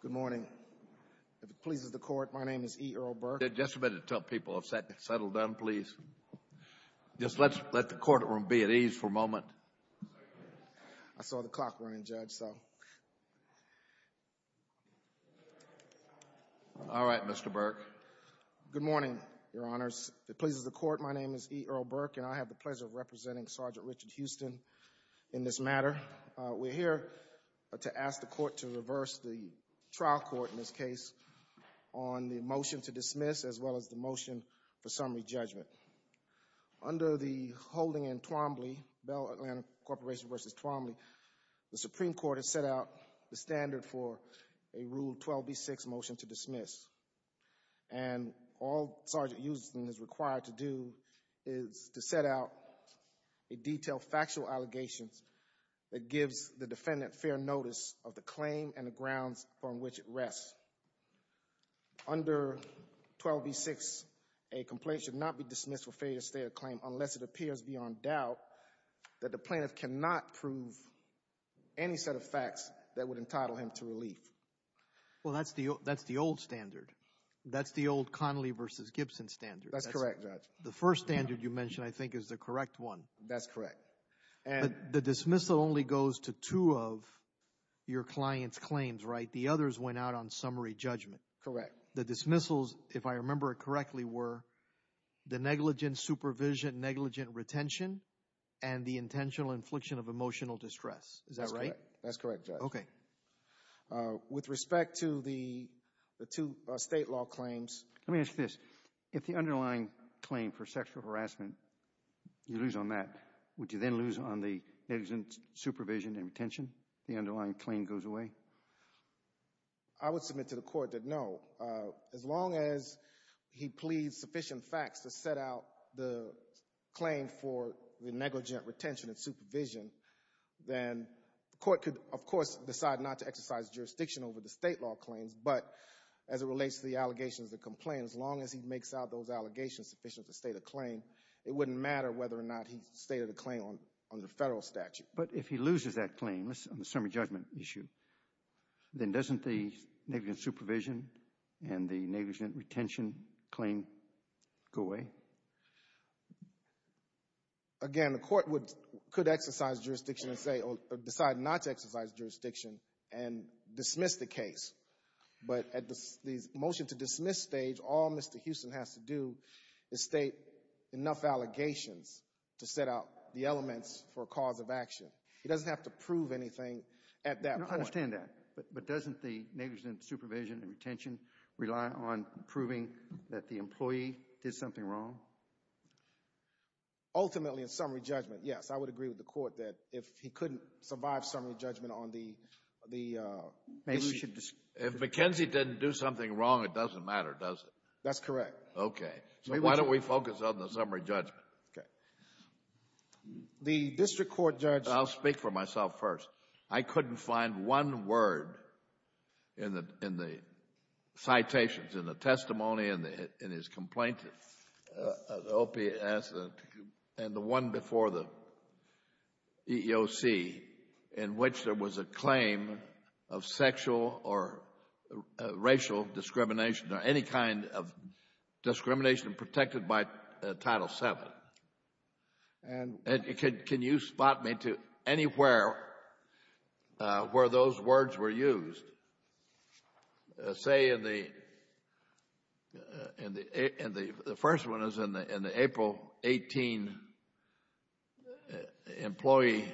Good morning, Your Honors. If it pleases the Court, my name is E. Earl Burke and I have the pleasure of representing Sgt. Richard Houston in this matter. We're here to ask the Court to reverse the trial court in this case on the motion to dismiss as well as the motion for summary judgment. Under the holding in Twombly, Bell Atlanta Corporation v. Twombly, the Supreme Court has set out the standard for a Rule 12b-6 motion to dismiss. And all Sgt. Houston is required to do is to set out a detailed factual allegation that gives the claim and the grounds on which it rests. Under 12b-6, a complaint should not be dismissed for failure to state a claim unless it appears beyond doubt that the plaintiff cannot prove any set of facts that would entitle him to relief. Well, that's the old standard. That's the old Connolly v. Gibson standard. That's correct, Judge. The first standard you mentioned, I think, is the client's claims, right? The others went out on summary judgment. Correct. The dismissals, if I remember it correctly, were the negligent supervision, negligent retention, and the intentional infliction of emotional distress. Is that right? That's correct, Judge. Okay. With respect to the two state law claims... Let me ask you this. If the underlying claim for sexual harassment, you lose on that, would you then lose on the negligent supervision and retention? The way? I would submit to the court that no. As long as he pleads sufficient facts to set out the claim for the negligent retention and supervision, then the court could, of course, decide not to exercise jurisdiction over the state law claims. But as it relates to the allegations, the complaint, as long as he makes out those allegations sufficient to state a claim, it wouldn't matter whether or not he stated a claim on the federal statute. But if he loses that claim on the summary judgment issue, then doesn't the negligent supervision and the negligent retention claim go away? Again, the court could exercise jurisdiction and say, or decide not to exercise jurisdiction and dismiss the case. But at the motion to dismiss stage, all Mr. Houston has to do is state enough allegations to set out the elements for cause of action. He doesn't have to prove anything at that point. I understand that. But doesn't the negligent supervision and retention rely on proving that the employee did something wrong? Ultimately, in summary judgment, yes. I would agree with the court that if he couldn't survive summary judgment on the... If McKenzie didn't do something wrong, it doesn't matter, does it? That's correct. Okay. So why don't we focus on the summary judgment? Okay. The district court judge... I'll speak for myself first. I couldn't find one word in the citations, in the testimony, in his complaint, the OPS, and the one before the EEOC, in which there was a claim of sexual or racial discrimination or any kind of discrimination protected by Title VII. And can you spot me to anywhere where those words were used? Say in the first one is in the April 18 employee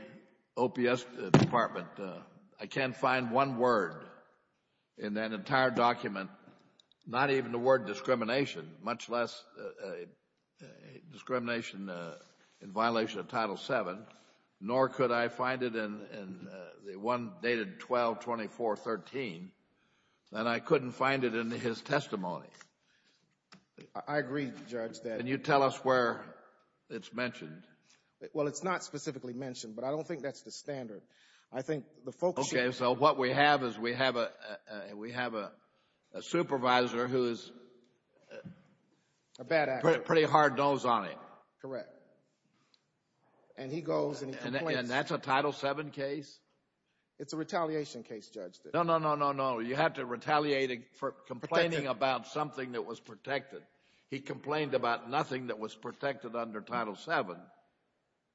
OPS department. I can't find one word in that entire document, not even the word discrimination, much less discrimination in violation of Title VII, nor could I find it in the one dated 12-24-13. And I couldn't find it in his testimony. I agree, Judge, that... Can you tell us where it's mentioned? Well, it's not specifically mentioned, but I don't think that's the standard. I think the folks... Okay. So what we have is we have a supervisor who's... A bad actor. ...pretty hard nose on him. Correct. And he goes and he complains. And that's a Title VII case? It's a retaliation case, Judge. No, no, no, no, no. You have to retaliate for complaining about something that was protected. He complained about nothing that was protected under Title VII.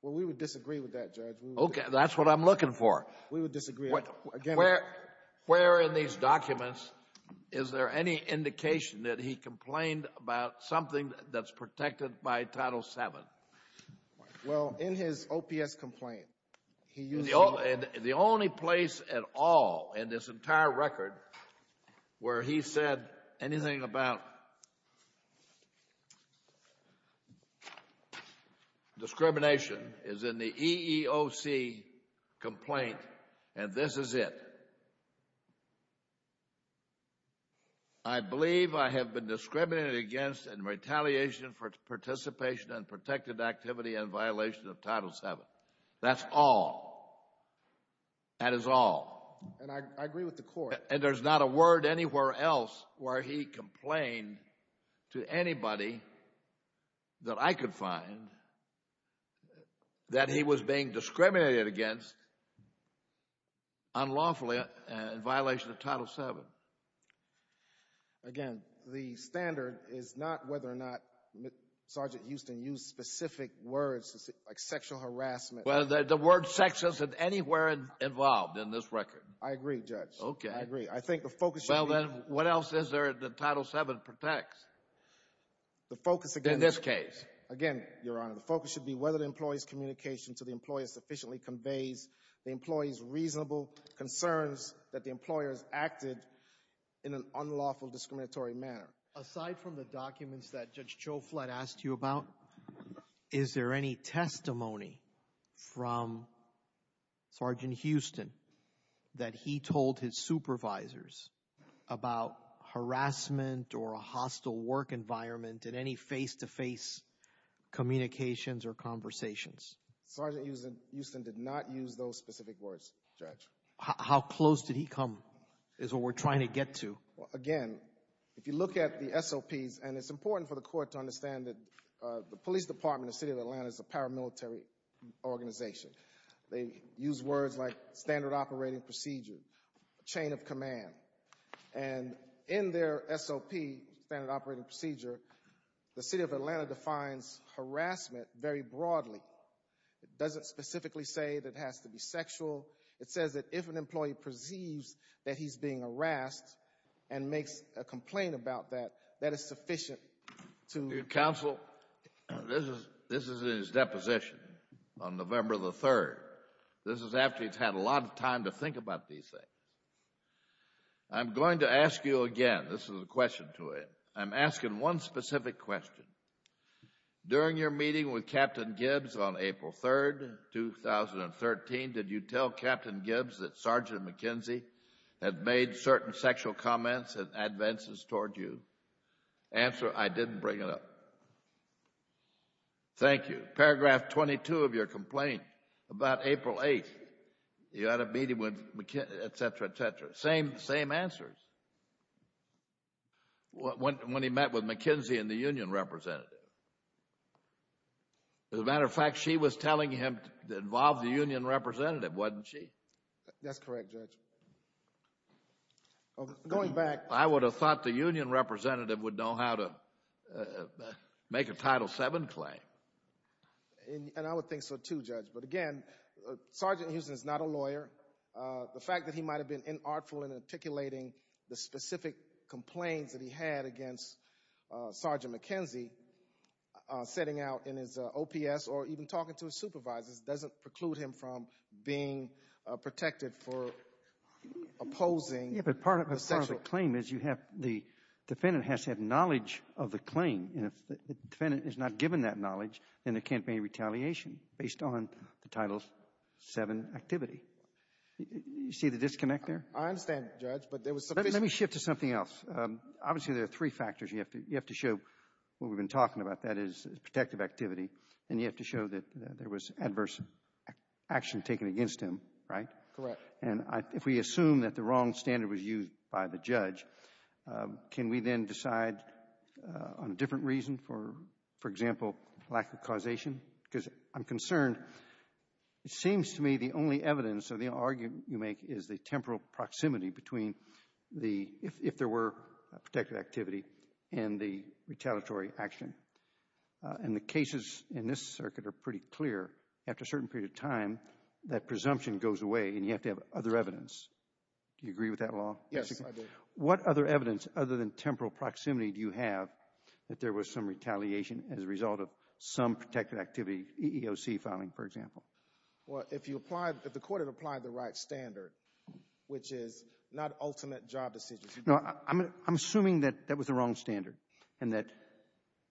Well, we would disagree with that, Judge. Okay. That's what I'm looking for. We would disagree. Where in these documents is there any indication that he complained about something that's protected by Title VII? Well, in his OPS complaint, he used... The only place at all in this entire record where he said anything about discrimination is in the EEOC complaint and this is it. I believe I have been discriminated against in retaliation for participation in protected activity in violation of Title VII. That's all. That is all. And I agree with the Court. And there's not a word anywhere else where he complained to anybody that I could find that he was being discriminated against unlawfully in violation of Title VII. Again, the standard is not whether or not Sergeant Houston used specific words, like sexual harassment. Well, the word sex isn't anywhere involved in this record. I agree, Judge. Okay. I agree. I think the focus should be... Well, then what else is there that Title VII protects in this case? Again, Your Honor, the focus should be whether the employee's communication to the employee sufficiently conveys the employee's reasonable concerns that the employer has acted in an unlawful discriminatory manner. Aside from the documents that Judge Joe Flett asked you about, is there any testimony from Sergeant Houston that he told his supervisors about harassment or a hostile work environment in any face-to-face communications or conversations? Sergeant Houston did not use those specific words, Judge. How close did he come is what we're trying to get to. Again, if you look at the SOPs, and it's important for the Court to understand that the Police Department of the City of Atlanta is a paramilitary organization. They use words like standard operating procedure. The City of Atlanta defines harassment very broadly. It doesn't specifically say that it has to be sexual. It says that if an employee perceives that he's being harassed and makes a complaint about that, that is sufficient to... Counsel, this is in his deposition on November the 3rd. This is after he's had a lot of time to think about these things. I'm going to ask you again. This is a question to him. I'm asking one specific question. During your meeting with Captain Gibbs on April 3rd, 2013, did you tell Captain Gibbs that Sergeant McKenzie had made certain sexual comments and advances toward you? Answer, I didn't bring it up. No. Thank you. Paragraph 22 of your complaint about April 8th, you had a meeting with McKenzie, etc., etc. Same answers. When he met with McKenzie and the union representative. As a matter of fact, she was telling him to involve the union representative, wasn't she? That's correct, Judge. Going back... I would have thought the union representative would know how to make a Title VII claim. And I would think so, too, Judge. But again, Sergeant Houston is not a lawyer. The fact that he might have been inartful in articulating the specific complaints that he had against Sergeant McKenzie setting out in his OPS or even talking to his supervisors doesn't preclude him from being protected for opposing the sexual... But part of the claim is you have the defendant has had knowledge of the claim, and if the defendant is not given that knowledge, then there can't be retaliation based on the Title VII activity. You see the disconnect there? I understand, Judge, but there was some... Let me shift to something else. Obviously, there are three factors you have to show. What we've been talking about, that is protective activity, and you have to show that there was adverse action taken against him, right? Correct. And if we assume that the wrong standard was used by the judge, can we then decide on a different reason, for example, lack of causation? Because I'm concerned. It seems to me the only evidence of the argument you make is the temporal proximity between the... if there were protective activity and the retaliatory action. And the cases in this circuit are pretty clear. After a certain period of time, that presumption goes away, and you have to have other evidence. Do you agree with that law? Yes, I do. What other evidence, other than temporal proximity, do you have that there was some retaliation as a result of some protective activity, EEOC filing, for example? Well, if you applied... if the court had applied the right standard, which is not ultimate job decisions... No, I'm assuming that that was the wrong standard and that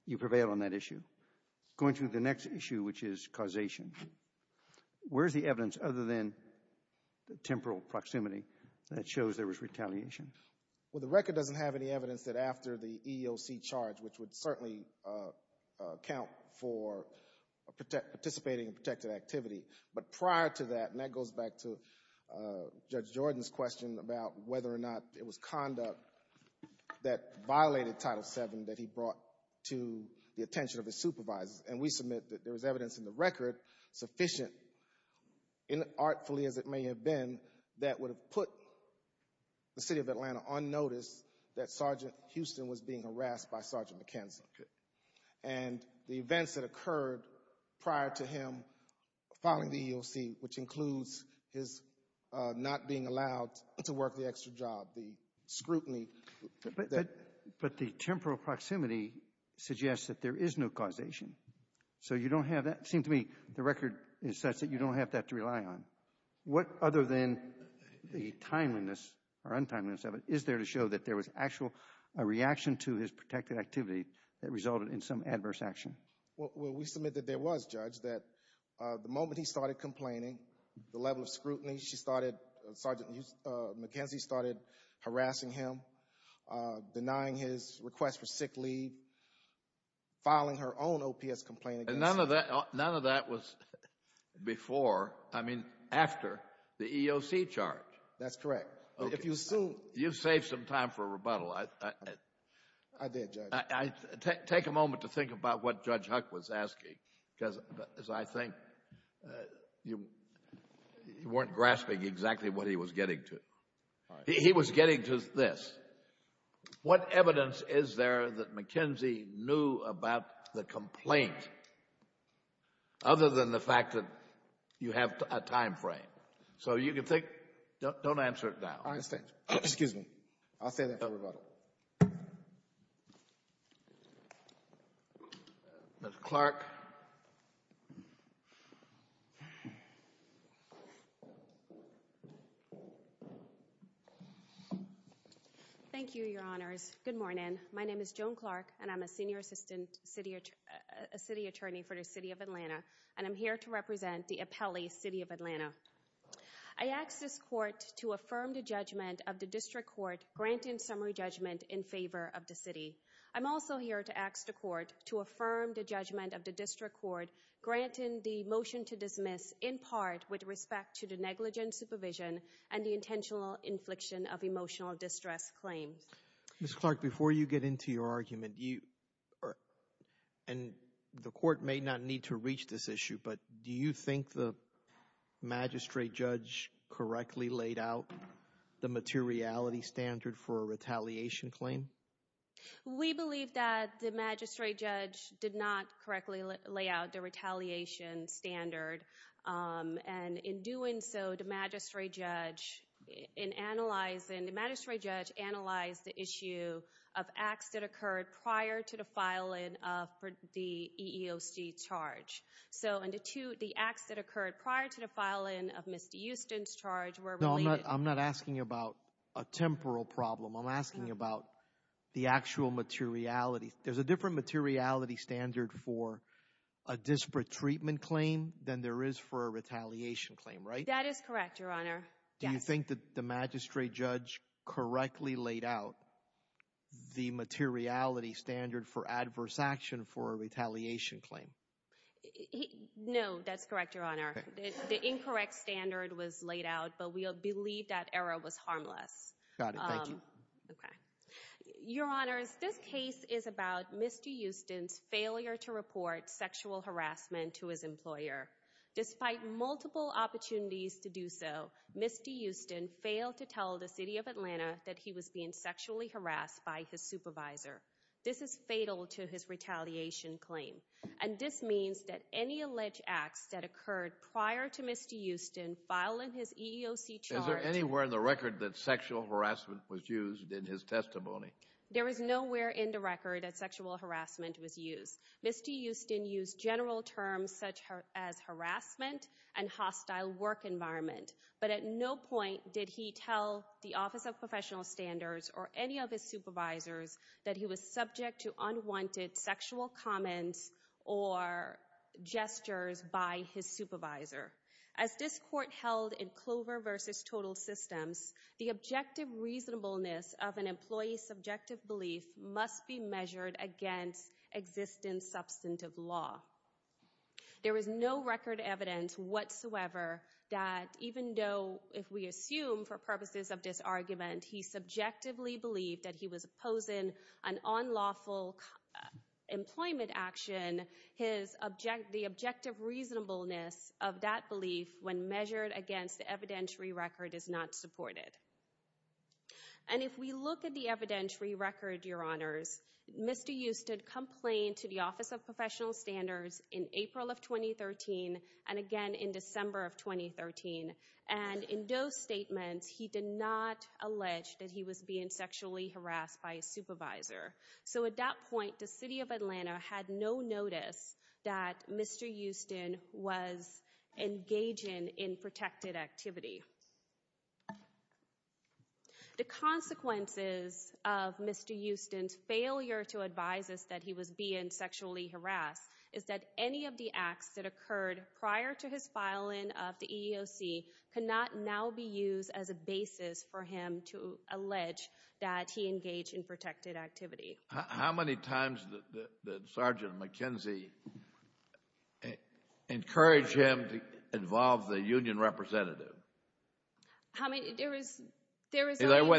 you prevail on that issue. Going to the next issue, which is causation, where's the evidence other than the temporal proximity that shows there was retaliation? Well, the record doesn't have any evidence that after the EEOC charge, which would certainly account for participating in protective activity. But prior to that, and that goes back to Judge Jordan's question about whether or not it was conduct that violated Title VII that he brought to the attention of his supervisors. And we submit that there was evidence in the record, sufficient, artfully as it may have been, that would have put the City of Atlanta on notice that Sergeant Houston was being harassed by Sergeant McKenzie. And the events that occurred prior to him filing the EEOC, which includes his not being allowed to work the extra job, the scrutiny... But the temporal proximity suggests that there is no causation. So you don't have that... Seems to me the record is such that you don't have that to rely on. What other than the timeliness or untimeliness of it is there to show that there was actual a reaction to his protective activity that resulted in some adverse action? Well, we submit that there was, Judge, that the moment he started complaining, the level of scrutiny she started... Sergeant McKenzie started harassing him, denying his request for sick leave, filing her own OPS complaint against him. And none of that was before, I mean, after the EEOC charge. That's correct. If you assume... You saved some time for a rebuttal. I did, Judge. Take a moment to think about what Judge Huck was asking, because as I think you weren't grasping exactly what he was getting to. He was getting to this. What evidence is there that McKenzie knew about the complaint, other than the fact that you have a time frame? So you can think... Don't answer it now. I understand. Excuse me. I'll say that for a rebuttal. Mr. Clark. Thank you, Your Honors. Good morning. My name is Joan Clark, and I'm a Senior Assistant City Attorney for the City of Atlanta, and I'm here to represent the Appellee City of Atlanta. I ask this Court to affirm the judgment of the District Court granting summary judgment in favor of the City. I'm also here to ask the Court to affirm the judgment of the District Court granting the motion to dismiss in part with respect to the negligent supervision and the intentional infliction of emotional distress claims. Ms. Clark, before you get into your argument, and the Court may not need to reach this issue, but do you think the Magistrate Judge correctly laid out the materiality standard for a retaliation claim? We believe that the Magistrate Judge did not correctly lay out the retaliation standard, and in doing so, the Magistrate Judge analyzed the issue of acts that occurred prior to the filing of the EEOC charge. So the acts that occurred prior to the filing of Mr. Houston's charge were related... No, I'm not asking about a temporal problem. I'm asking about the actual materiality. There's a different materiality standard for a disparate treatment claim than there is for a retaliation claim, right? That is correct, Your Honor. Do you think that the Magistrate Judge correctly laid out the materiality standard for adverse action for a retaliation claim? No, that's correct, Your Honor. The incorrect standard was laid out, but we believe that error was harmless. Got it. Thank you. Okay. Your Honor, this case is about Mr. Houston's failure to report sexual harassment to his employer. Despite multiple opportunities to do so, Mr. Houston failed to tell the City of Atlanta that he was being sexually harassed by his supervisor. This is fatal to his retaliation claim, and this means that any alleged acts that occurred prior to Mr. Houston filing his EEOC charge... Is there anywhere in the record that sexual harassment was used in his testimony? There is nowhere in the record that sexual harassment was used. Mr. Houston used general terms such as harassment and hostile work environment, but at no point did he tell the Office of Professional Standards or any of his supervisors that he was subject to unwanted sexual harassment. There is no record evidence whatsoever that even though, if we assume for purposes of this argument, he subjectively believed that he was opposing an unlawful employment action, the objective reasonableness of that belief when measured against evidentiary record is not supported. And if we look at the evidentiary record, Your Honors, Mr. Houston complained to the Office of Professional Standards in April of 2013 and again in December of 2013, and in those statements, he did not allege that he was being sexually harassed by his supervisor. So at that point, the City of Atlanta had no notice that Mr. Houston was engaging in protected activity. The consequences of Mr. Houston's failure to advise us that he was being sexually harassed is that any of the acts that occurred prior to his filing of the EEOC cannot now be used as a basis for him to allege that he engaged in protected activity. How many times did I do? There is only one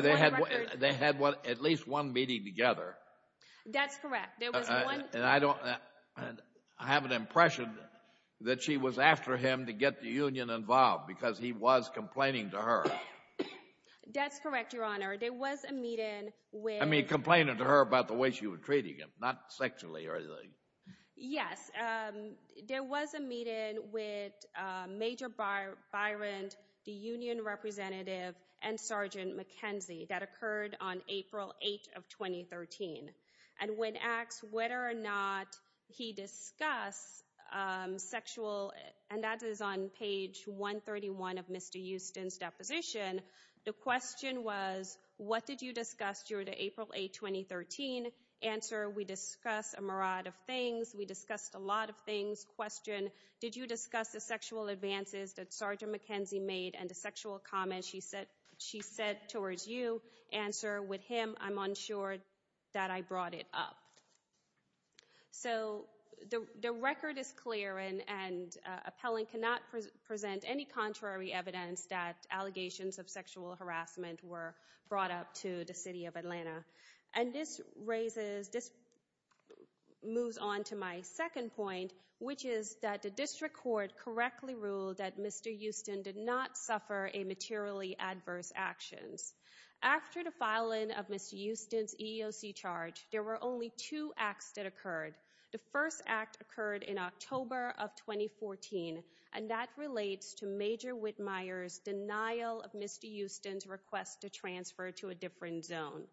record. They had at least one meeting together. That's correct. And I have an impression that she was after him to get the union involved because he was complaining to her. That's correct, Your Honor. There was a meeting with... I mean complaining to her about the way she was treating him, not sexually or anything. Yes, there was a meeting with Major Byron, the union representative, and Sergeant McKenzie that occurred on April 8 of 2013. And when asked whether or not he discussed sexual... and that is on page 131 of Mr. Houston's deposition, the question was, what did you discuss during April 8, 2013? Answer, we discussed a lot of things. Question, did you discuss the sexual advances that Sergeant McKenzie made and the sexual comments she said towards you? Answer, with him, I'm unsure that I brought it up. So the record is clear and appellant cannot present any contrary evidence that allegations of sexual harassment were brought up to the City of Atlanta. And this raises... this moves on to my second point, which is that the district court correctly ruled that Mr. Houston did not suffer a materially adverse actions. After the filing of Mr. Houston's EEOC charge, there were only two acts that occurred. The first act occurred in October of 2014, and that relates to Major Whitmire's denial of Mr. Houston's request to transfer to a different zone.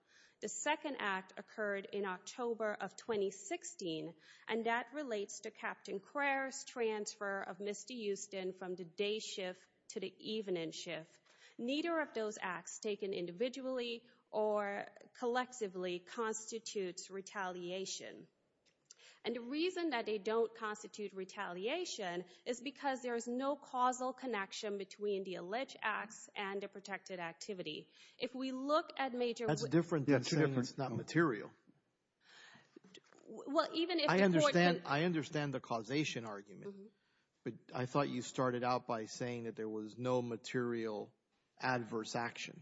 The second act occurred in October of 2016, and that relates to Captain Crayer's transfer of Mr. Houston from the day shift to the evening shift. Neither of those acts, taken individually or collectively, constitutes retaliation. And the reason that they don't constitute retaliation is because there is no causal connection between the alleged acts and the protected activity. If we look at Major... That's different than saying it's not material. Well, even if the court... I understand the causation argument, but I thought you started out by saying that there was no material adverse action.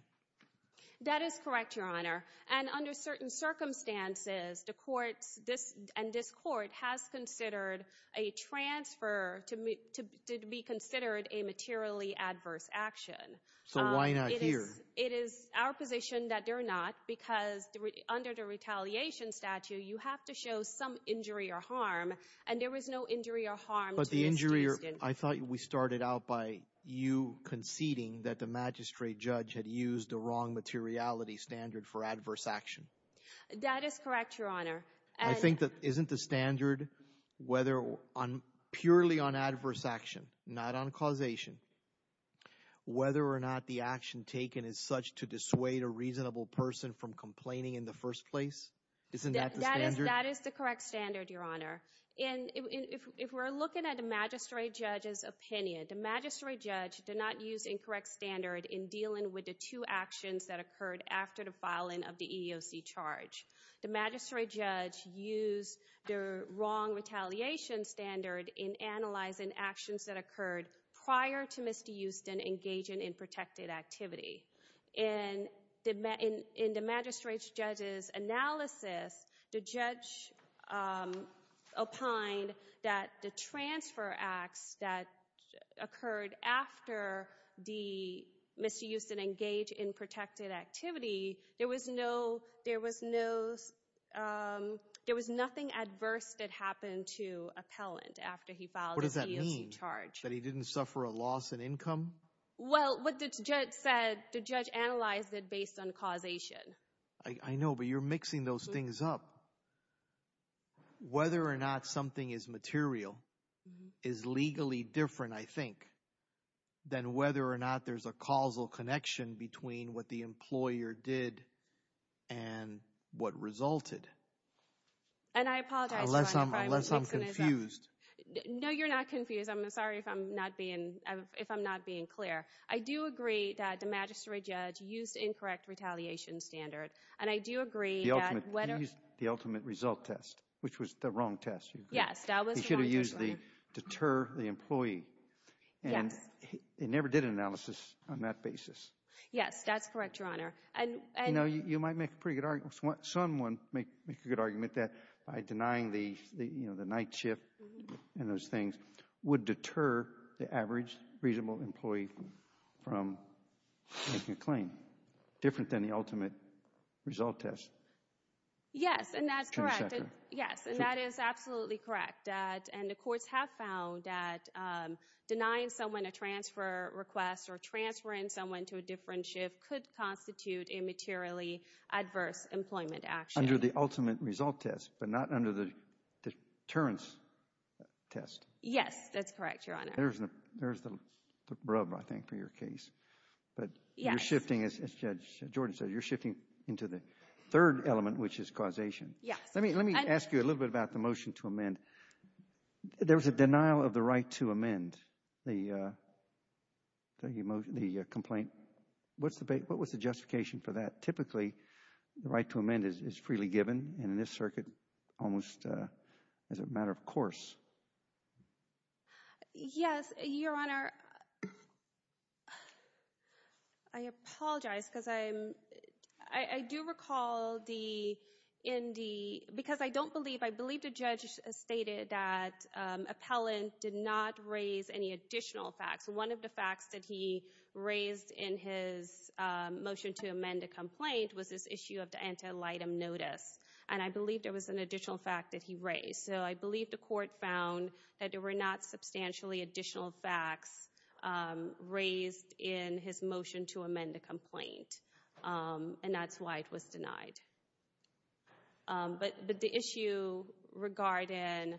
That is correct, Your Honor. And under certain circumstances, the courts, this and this court, has considered a transfer to be considered a materially adverse action. So why not here? It is our position that they're not, because under the retaliation statute, you have to show some injury or harm, and there was no injury or harm to Mr. Houston. But the injury or... I thought we started out by you conceding that the magistrate judge had used the wrong materiality standard for adverse action. That is correct, Your Honor. And... I think that isn't the standard whether on... purely on adverse action, not on causation. Whether or not the action taken is such to dissuade a reasonable person from complaining in the first place? Isn't that the standard? That is the correct standard, Your Honor. And if we're looking at the magistrate judge's opinion, the magistrate judge did not use incorrect standard in dealing with the two actions that occurred after the filing of the EEOC charge. The magistrate judge used the wrong retaliation standard in analyzing actions that occurred prior to Mr. Houston engaging in protected activity. And in the magistrate judge's analysis, the judge opined that the transfer acts that occurred after Mr. Houston engaged in protected activity, there was no... there was no... there was nothing adverse that happened to appellant after he filed the EEOC charge. What does that mean? That he didn't suffer a loss in income? Well, what the judge said, the judge analyzed it based on causation. I know, but you're mixing those things up. Whether or not something is material is legally different, I think, than whether or not there's a causal connection between what the employer did and what resulted. And I apologize, Your Honor, if I'm mixing this up. Unless I'm confused. No, you're not confused. I'm sorry if I'm not being... if I'm not being clear. I do agree that the magistrate judge used incorrect retaliation standard, and I do agree that whether... He used the ultimate result test, which was the wrong test. Yes, that was the wrong test, Your Honor. ...to deter the employee. Yes. And he never did an analysis on that basis. Yes, that's correct, Your Honor. And... You know, you might make a pretty good argument... someone might make a good argument that by denying the night shift and those things would deter the average reasonable employee from making a claim, different than the ultimate result test. Yes, and that's correct. Yes, and that is absolutely correct. And the courts have found that denying someone a transfer request or transferring someone to a different shift could constitute a materially adverse employment action. Under the ultimate result test, but not under the deterrence test. Yes, that's correct, Your Honor. There's the rub, I think, for your case. But you're shifting, as Judge Jordan said, you're shifting into the third element, which is causation. Yes. Let me ask you a little bit about the motion to amend. There was a denial of the right to amend the complaint. What was the justification for that? Typically, the right to amend is freely given, and in this circuit, almost as a matter of course. Yes, Your Honor. I apologize, because I'm... I do recall the... in the... because I don't believe... I believe the judge stated that appellant did not raise any additional facts. One of the facts that he raised in his motion to amend a complaint was this issue of the antelitum notice. And I believe there was an additional fact that he raised. So I believe the court found that there were not substantially additional facts raised in his motion to amend the complaint, and that's why it was denied. But the issue regarding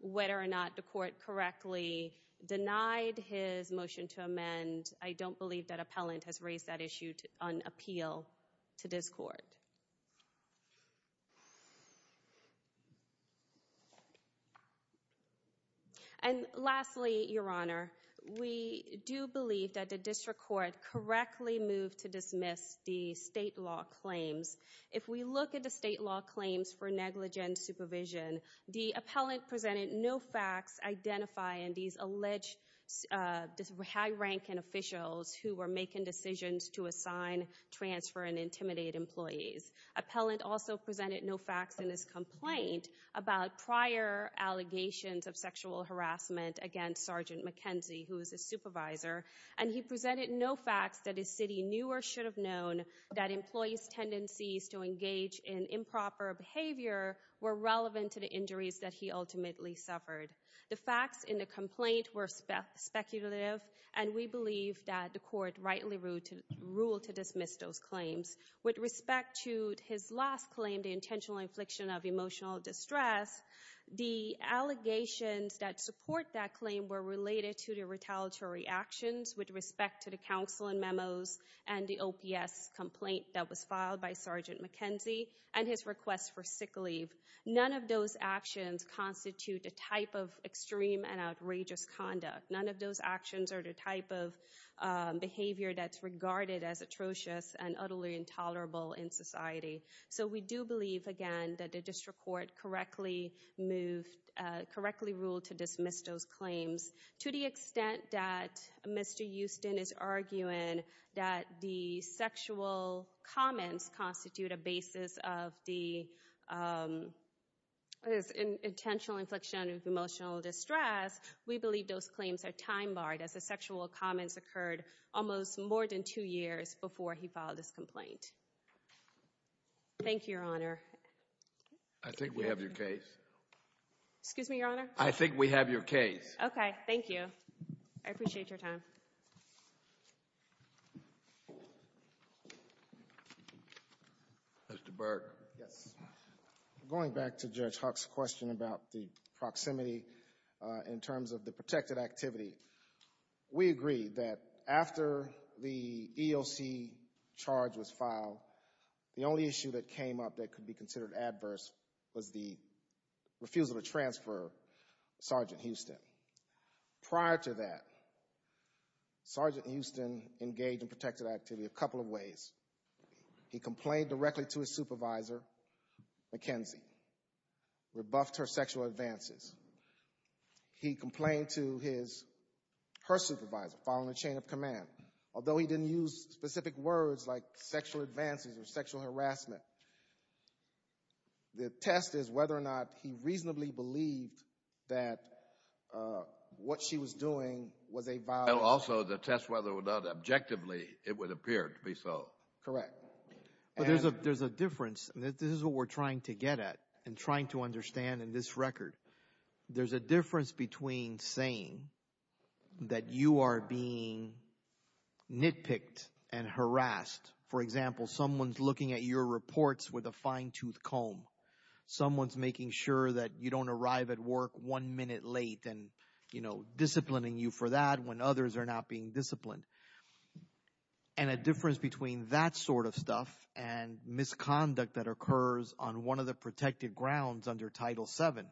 whether or not the court correctly denied his motion to amend, I don't believe that appellant has raised that issue on appeal to this court. And lastly, Your Honor, we do believe that the district court correctly moved to dismiss the state law claims. If we look at the state law claims for negligent supervision, the appellant presented no facts identifying these alleged high-ranking officials who were making decisions to assign, transfer, and intimidate employees. Appellant also presented no facts in his complaint about prior allegations of sexual harassment against Sergeant McKenzie, who is a supervisor, and he presented no facts that his city knew or should have known that employees' tendencies to engage in improper behavior were relevant to the injuries that he ultimately suffered. The facts in the complaint were speculative, and we believe that the court ruled to dismiss those claims. With respect to his last claim, the intentional infliction of emotional distress, the allegations that support that claim were related to the retaliatory actions with respect to the counsel and memos and the OPS complaint that was filed by Sergeant McKenzie and his request for sick leave. None of those actions constitute a type of extreme and outrageous conduct. None of those actions are the type of behavior that's regarded as atrocious and utterly intolerable in society. So we do believe, again, that the district court correctly moved, correctly ruled to dismiss those claims. To the extent that Mr. Houston is arguing that the sexual comments constitute a basis of the intentional infliction of emotional distress, we believe those claims are time-barred, as the sexual comments occurred almost more than two years before he filed this complaint. Thank you, Your Honor. I think we have your case. Excuse me, Your Honor? I think we have your case. Okay, thank you. I appreciate your time. Mr. Burke. Yes. Going back to Judge Huck's question about the proximity in terms of the protected activity, we agree that after the EOC charge was filed, the only issue that came up that could be considered adverse was the refusal to transfer Sergeant Houston. Prior to that, Sergeant Houston engaged in protected activity a couple of ways. He complained directly to his supervisor, McKenzie, rebuffed her sexual advances. He complained to his, her supervisor, following the chain of command, although he didn't use specific words like sexual advances or sexual harassment. The test is whether or not he reasonably believed that what she was doing was also the test, whether or not objectively it would appear to be so. Correct. But there's a, there's a difference. This is what we're trying to get at and trying to understand in this record. There's a difference between saying that you are being nitpicked and harassed. For example, someone's looking at your reports with a fine-tooth comb. Someone's making sure that you don't arrive at work one minute late and, you know, disciplining you for that when others are not being disciplined. And a difference between that sort of stuff and misconduct that occurs on one of the protected grounds under Title VII,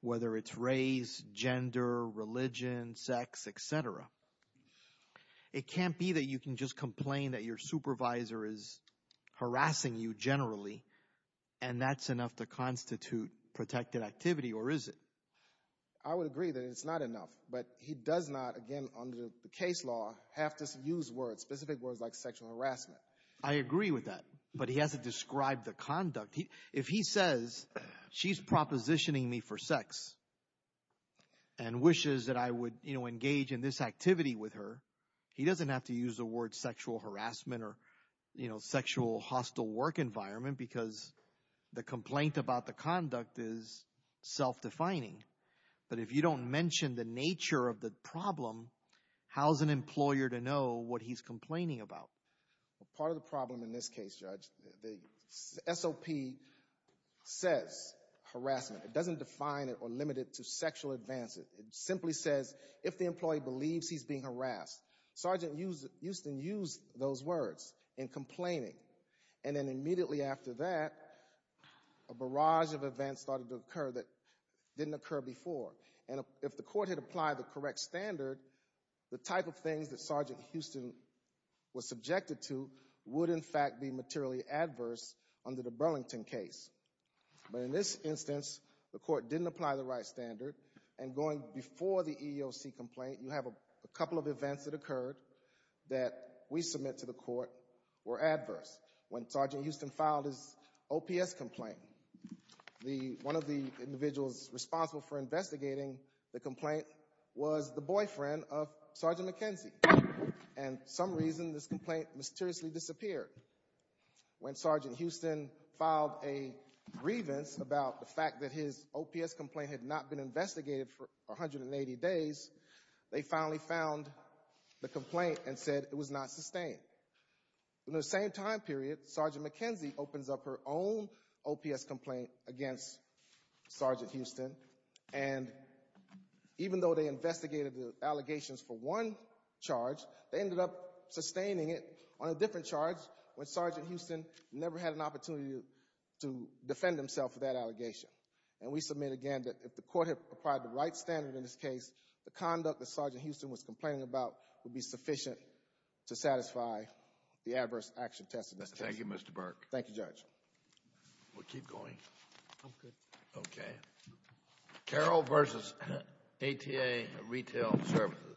whether it's race, gender, religion, sex, etc., it can't be that you can just complain that your supervisor is harassing you generally and that's enough to agree that it's not enough. But he does not, again, under the case law, have to use words, specific words like sexual harassment. I agree with that. But he has to describe the conduct. If he says she's propositioning me for sex and wishes that I would, you know, engage in this activity with her, he doesn't have to use the word sexual harassment or, you know, sexual hostile work environment because the complaint about the conduct is self-defining. But if you don't mention the nature of the problem, how's an employer to know what he's complaining about? Part of the problem in this case, Judge, the SOP says harassment. It doesn't define it or limit it to sexual advances. It simply says if the employee believes he's being harassed. Sergeant Houston used those words in complaining and then immediately after that, a barrage of events started to occur that didn't occur before. And if the court had applied the correct standard, the type of things that Sergeant Houston was subjected to would, in fact, be materially adverse under the Burlington case. But in this instance, the court didn't apply the right standard and going before the EEOC complaint, you have a couple of events that that we submit to the court were adverse. When Sergeant Houston filed his OPS complaint, one of the individuals responsible for investigating the complaint was the boyfriend of Sergeant McKenzie. And for some reason, this complaint mysteriously disappeared. When Sergeant Houston filed a grievance about the fact that his OPS complaint had not been sustained. In the same time period, Sergeant McKenzie opens up her own OPS complaint against Sergeant Houston. And even though they investigated the allegations for one charge, they ended up sustaining it on a different charge when Sergeant Houston never had an opportunity to defend himself for that allegation. And we submit again that if the court had applied the right standard in this case, the conduct that Sergeant Houston was complaining about would be sufficient to satisfy the adverse action test of this case. Thank you, Mr. Burke. Thank you, Judge. We'll keep going. I'm good. Okay. Carroll versus ATA Retail Services.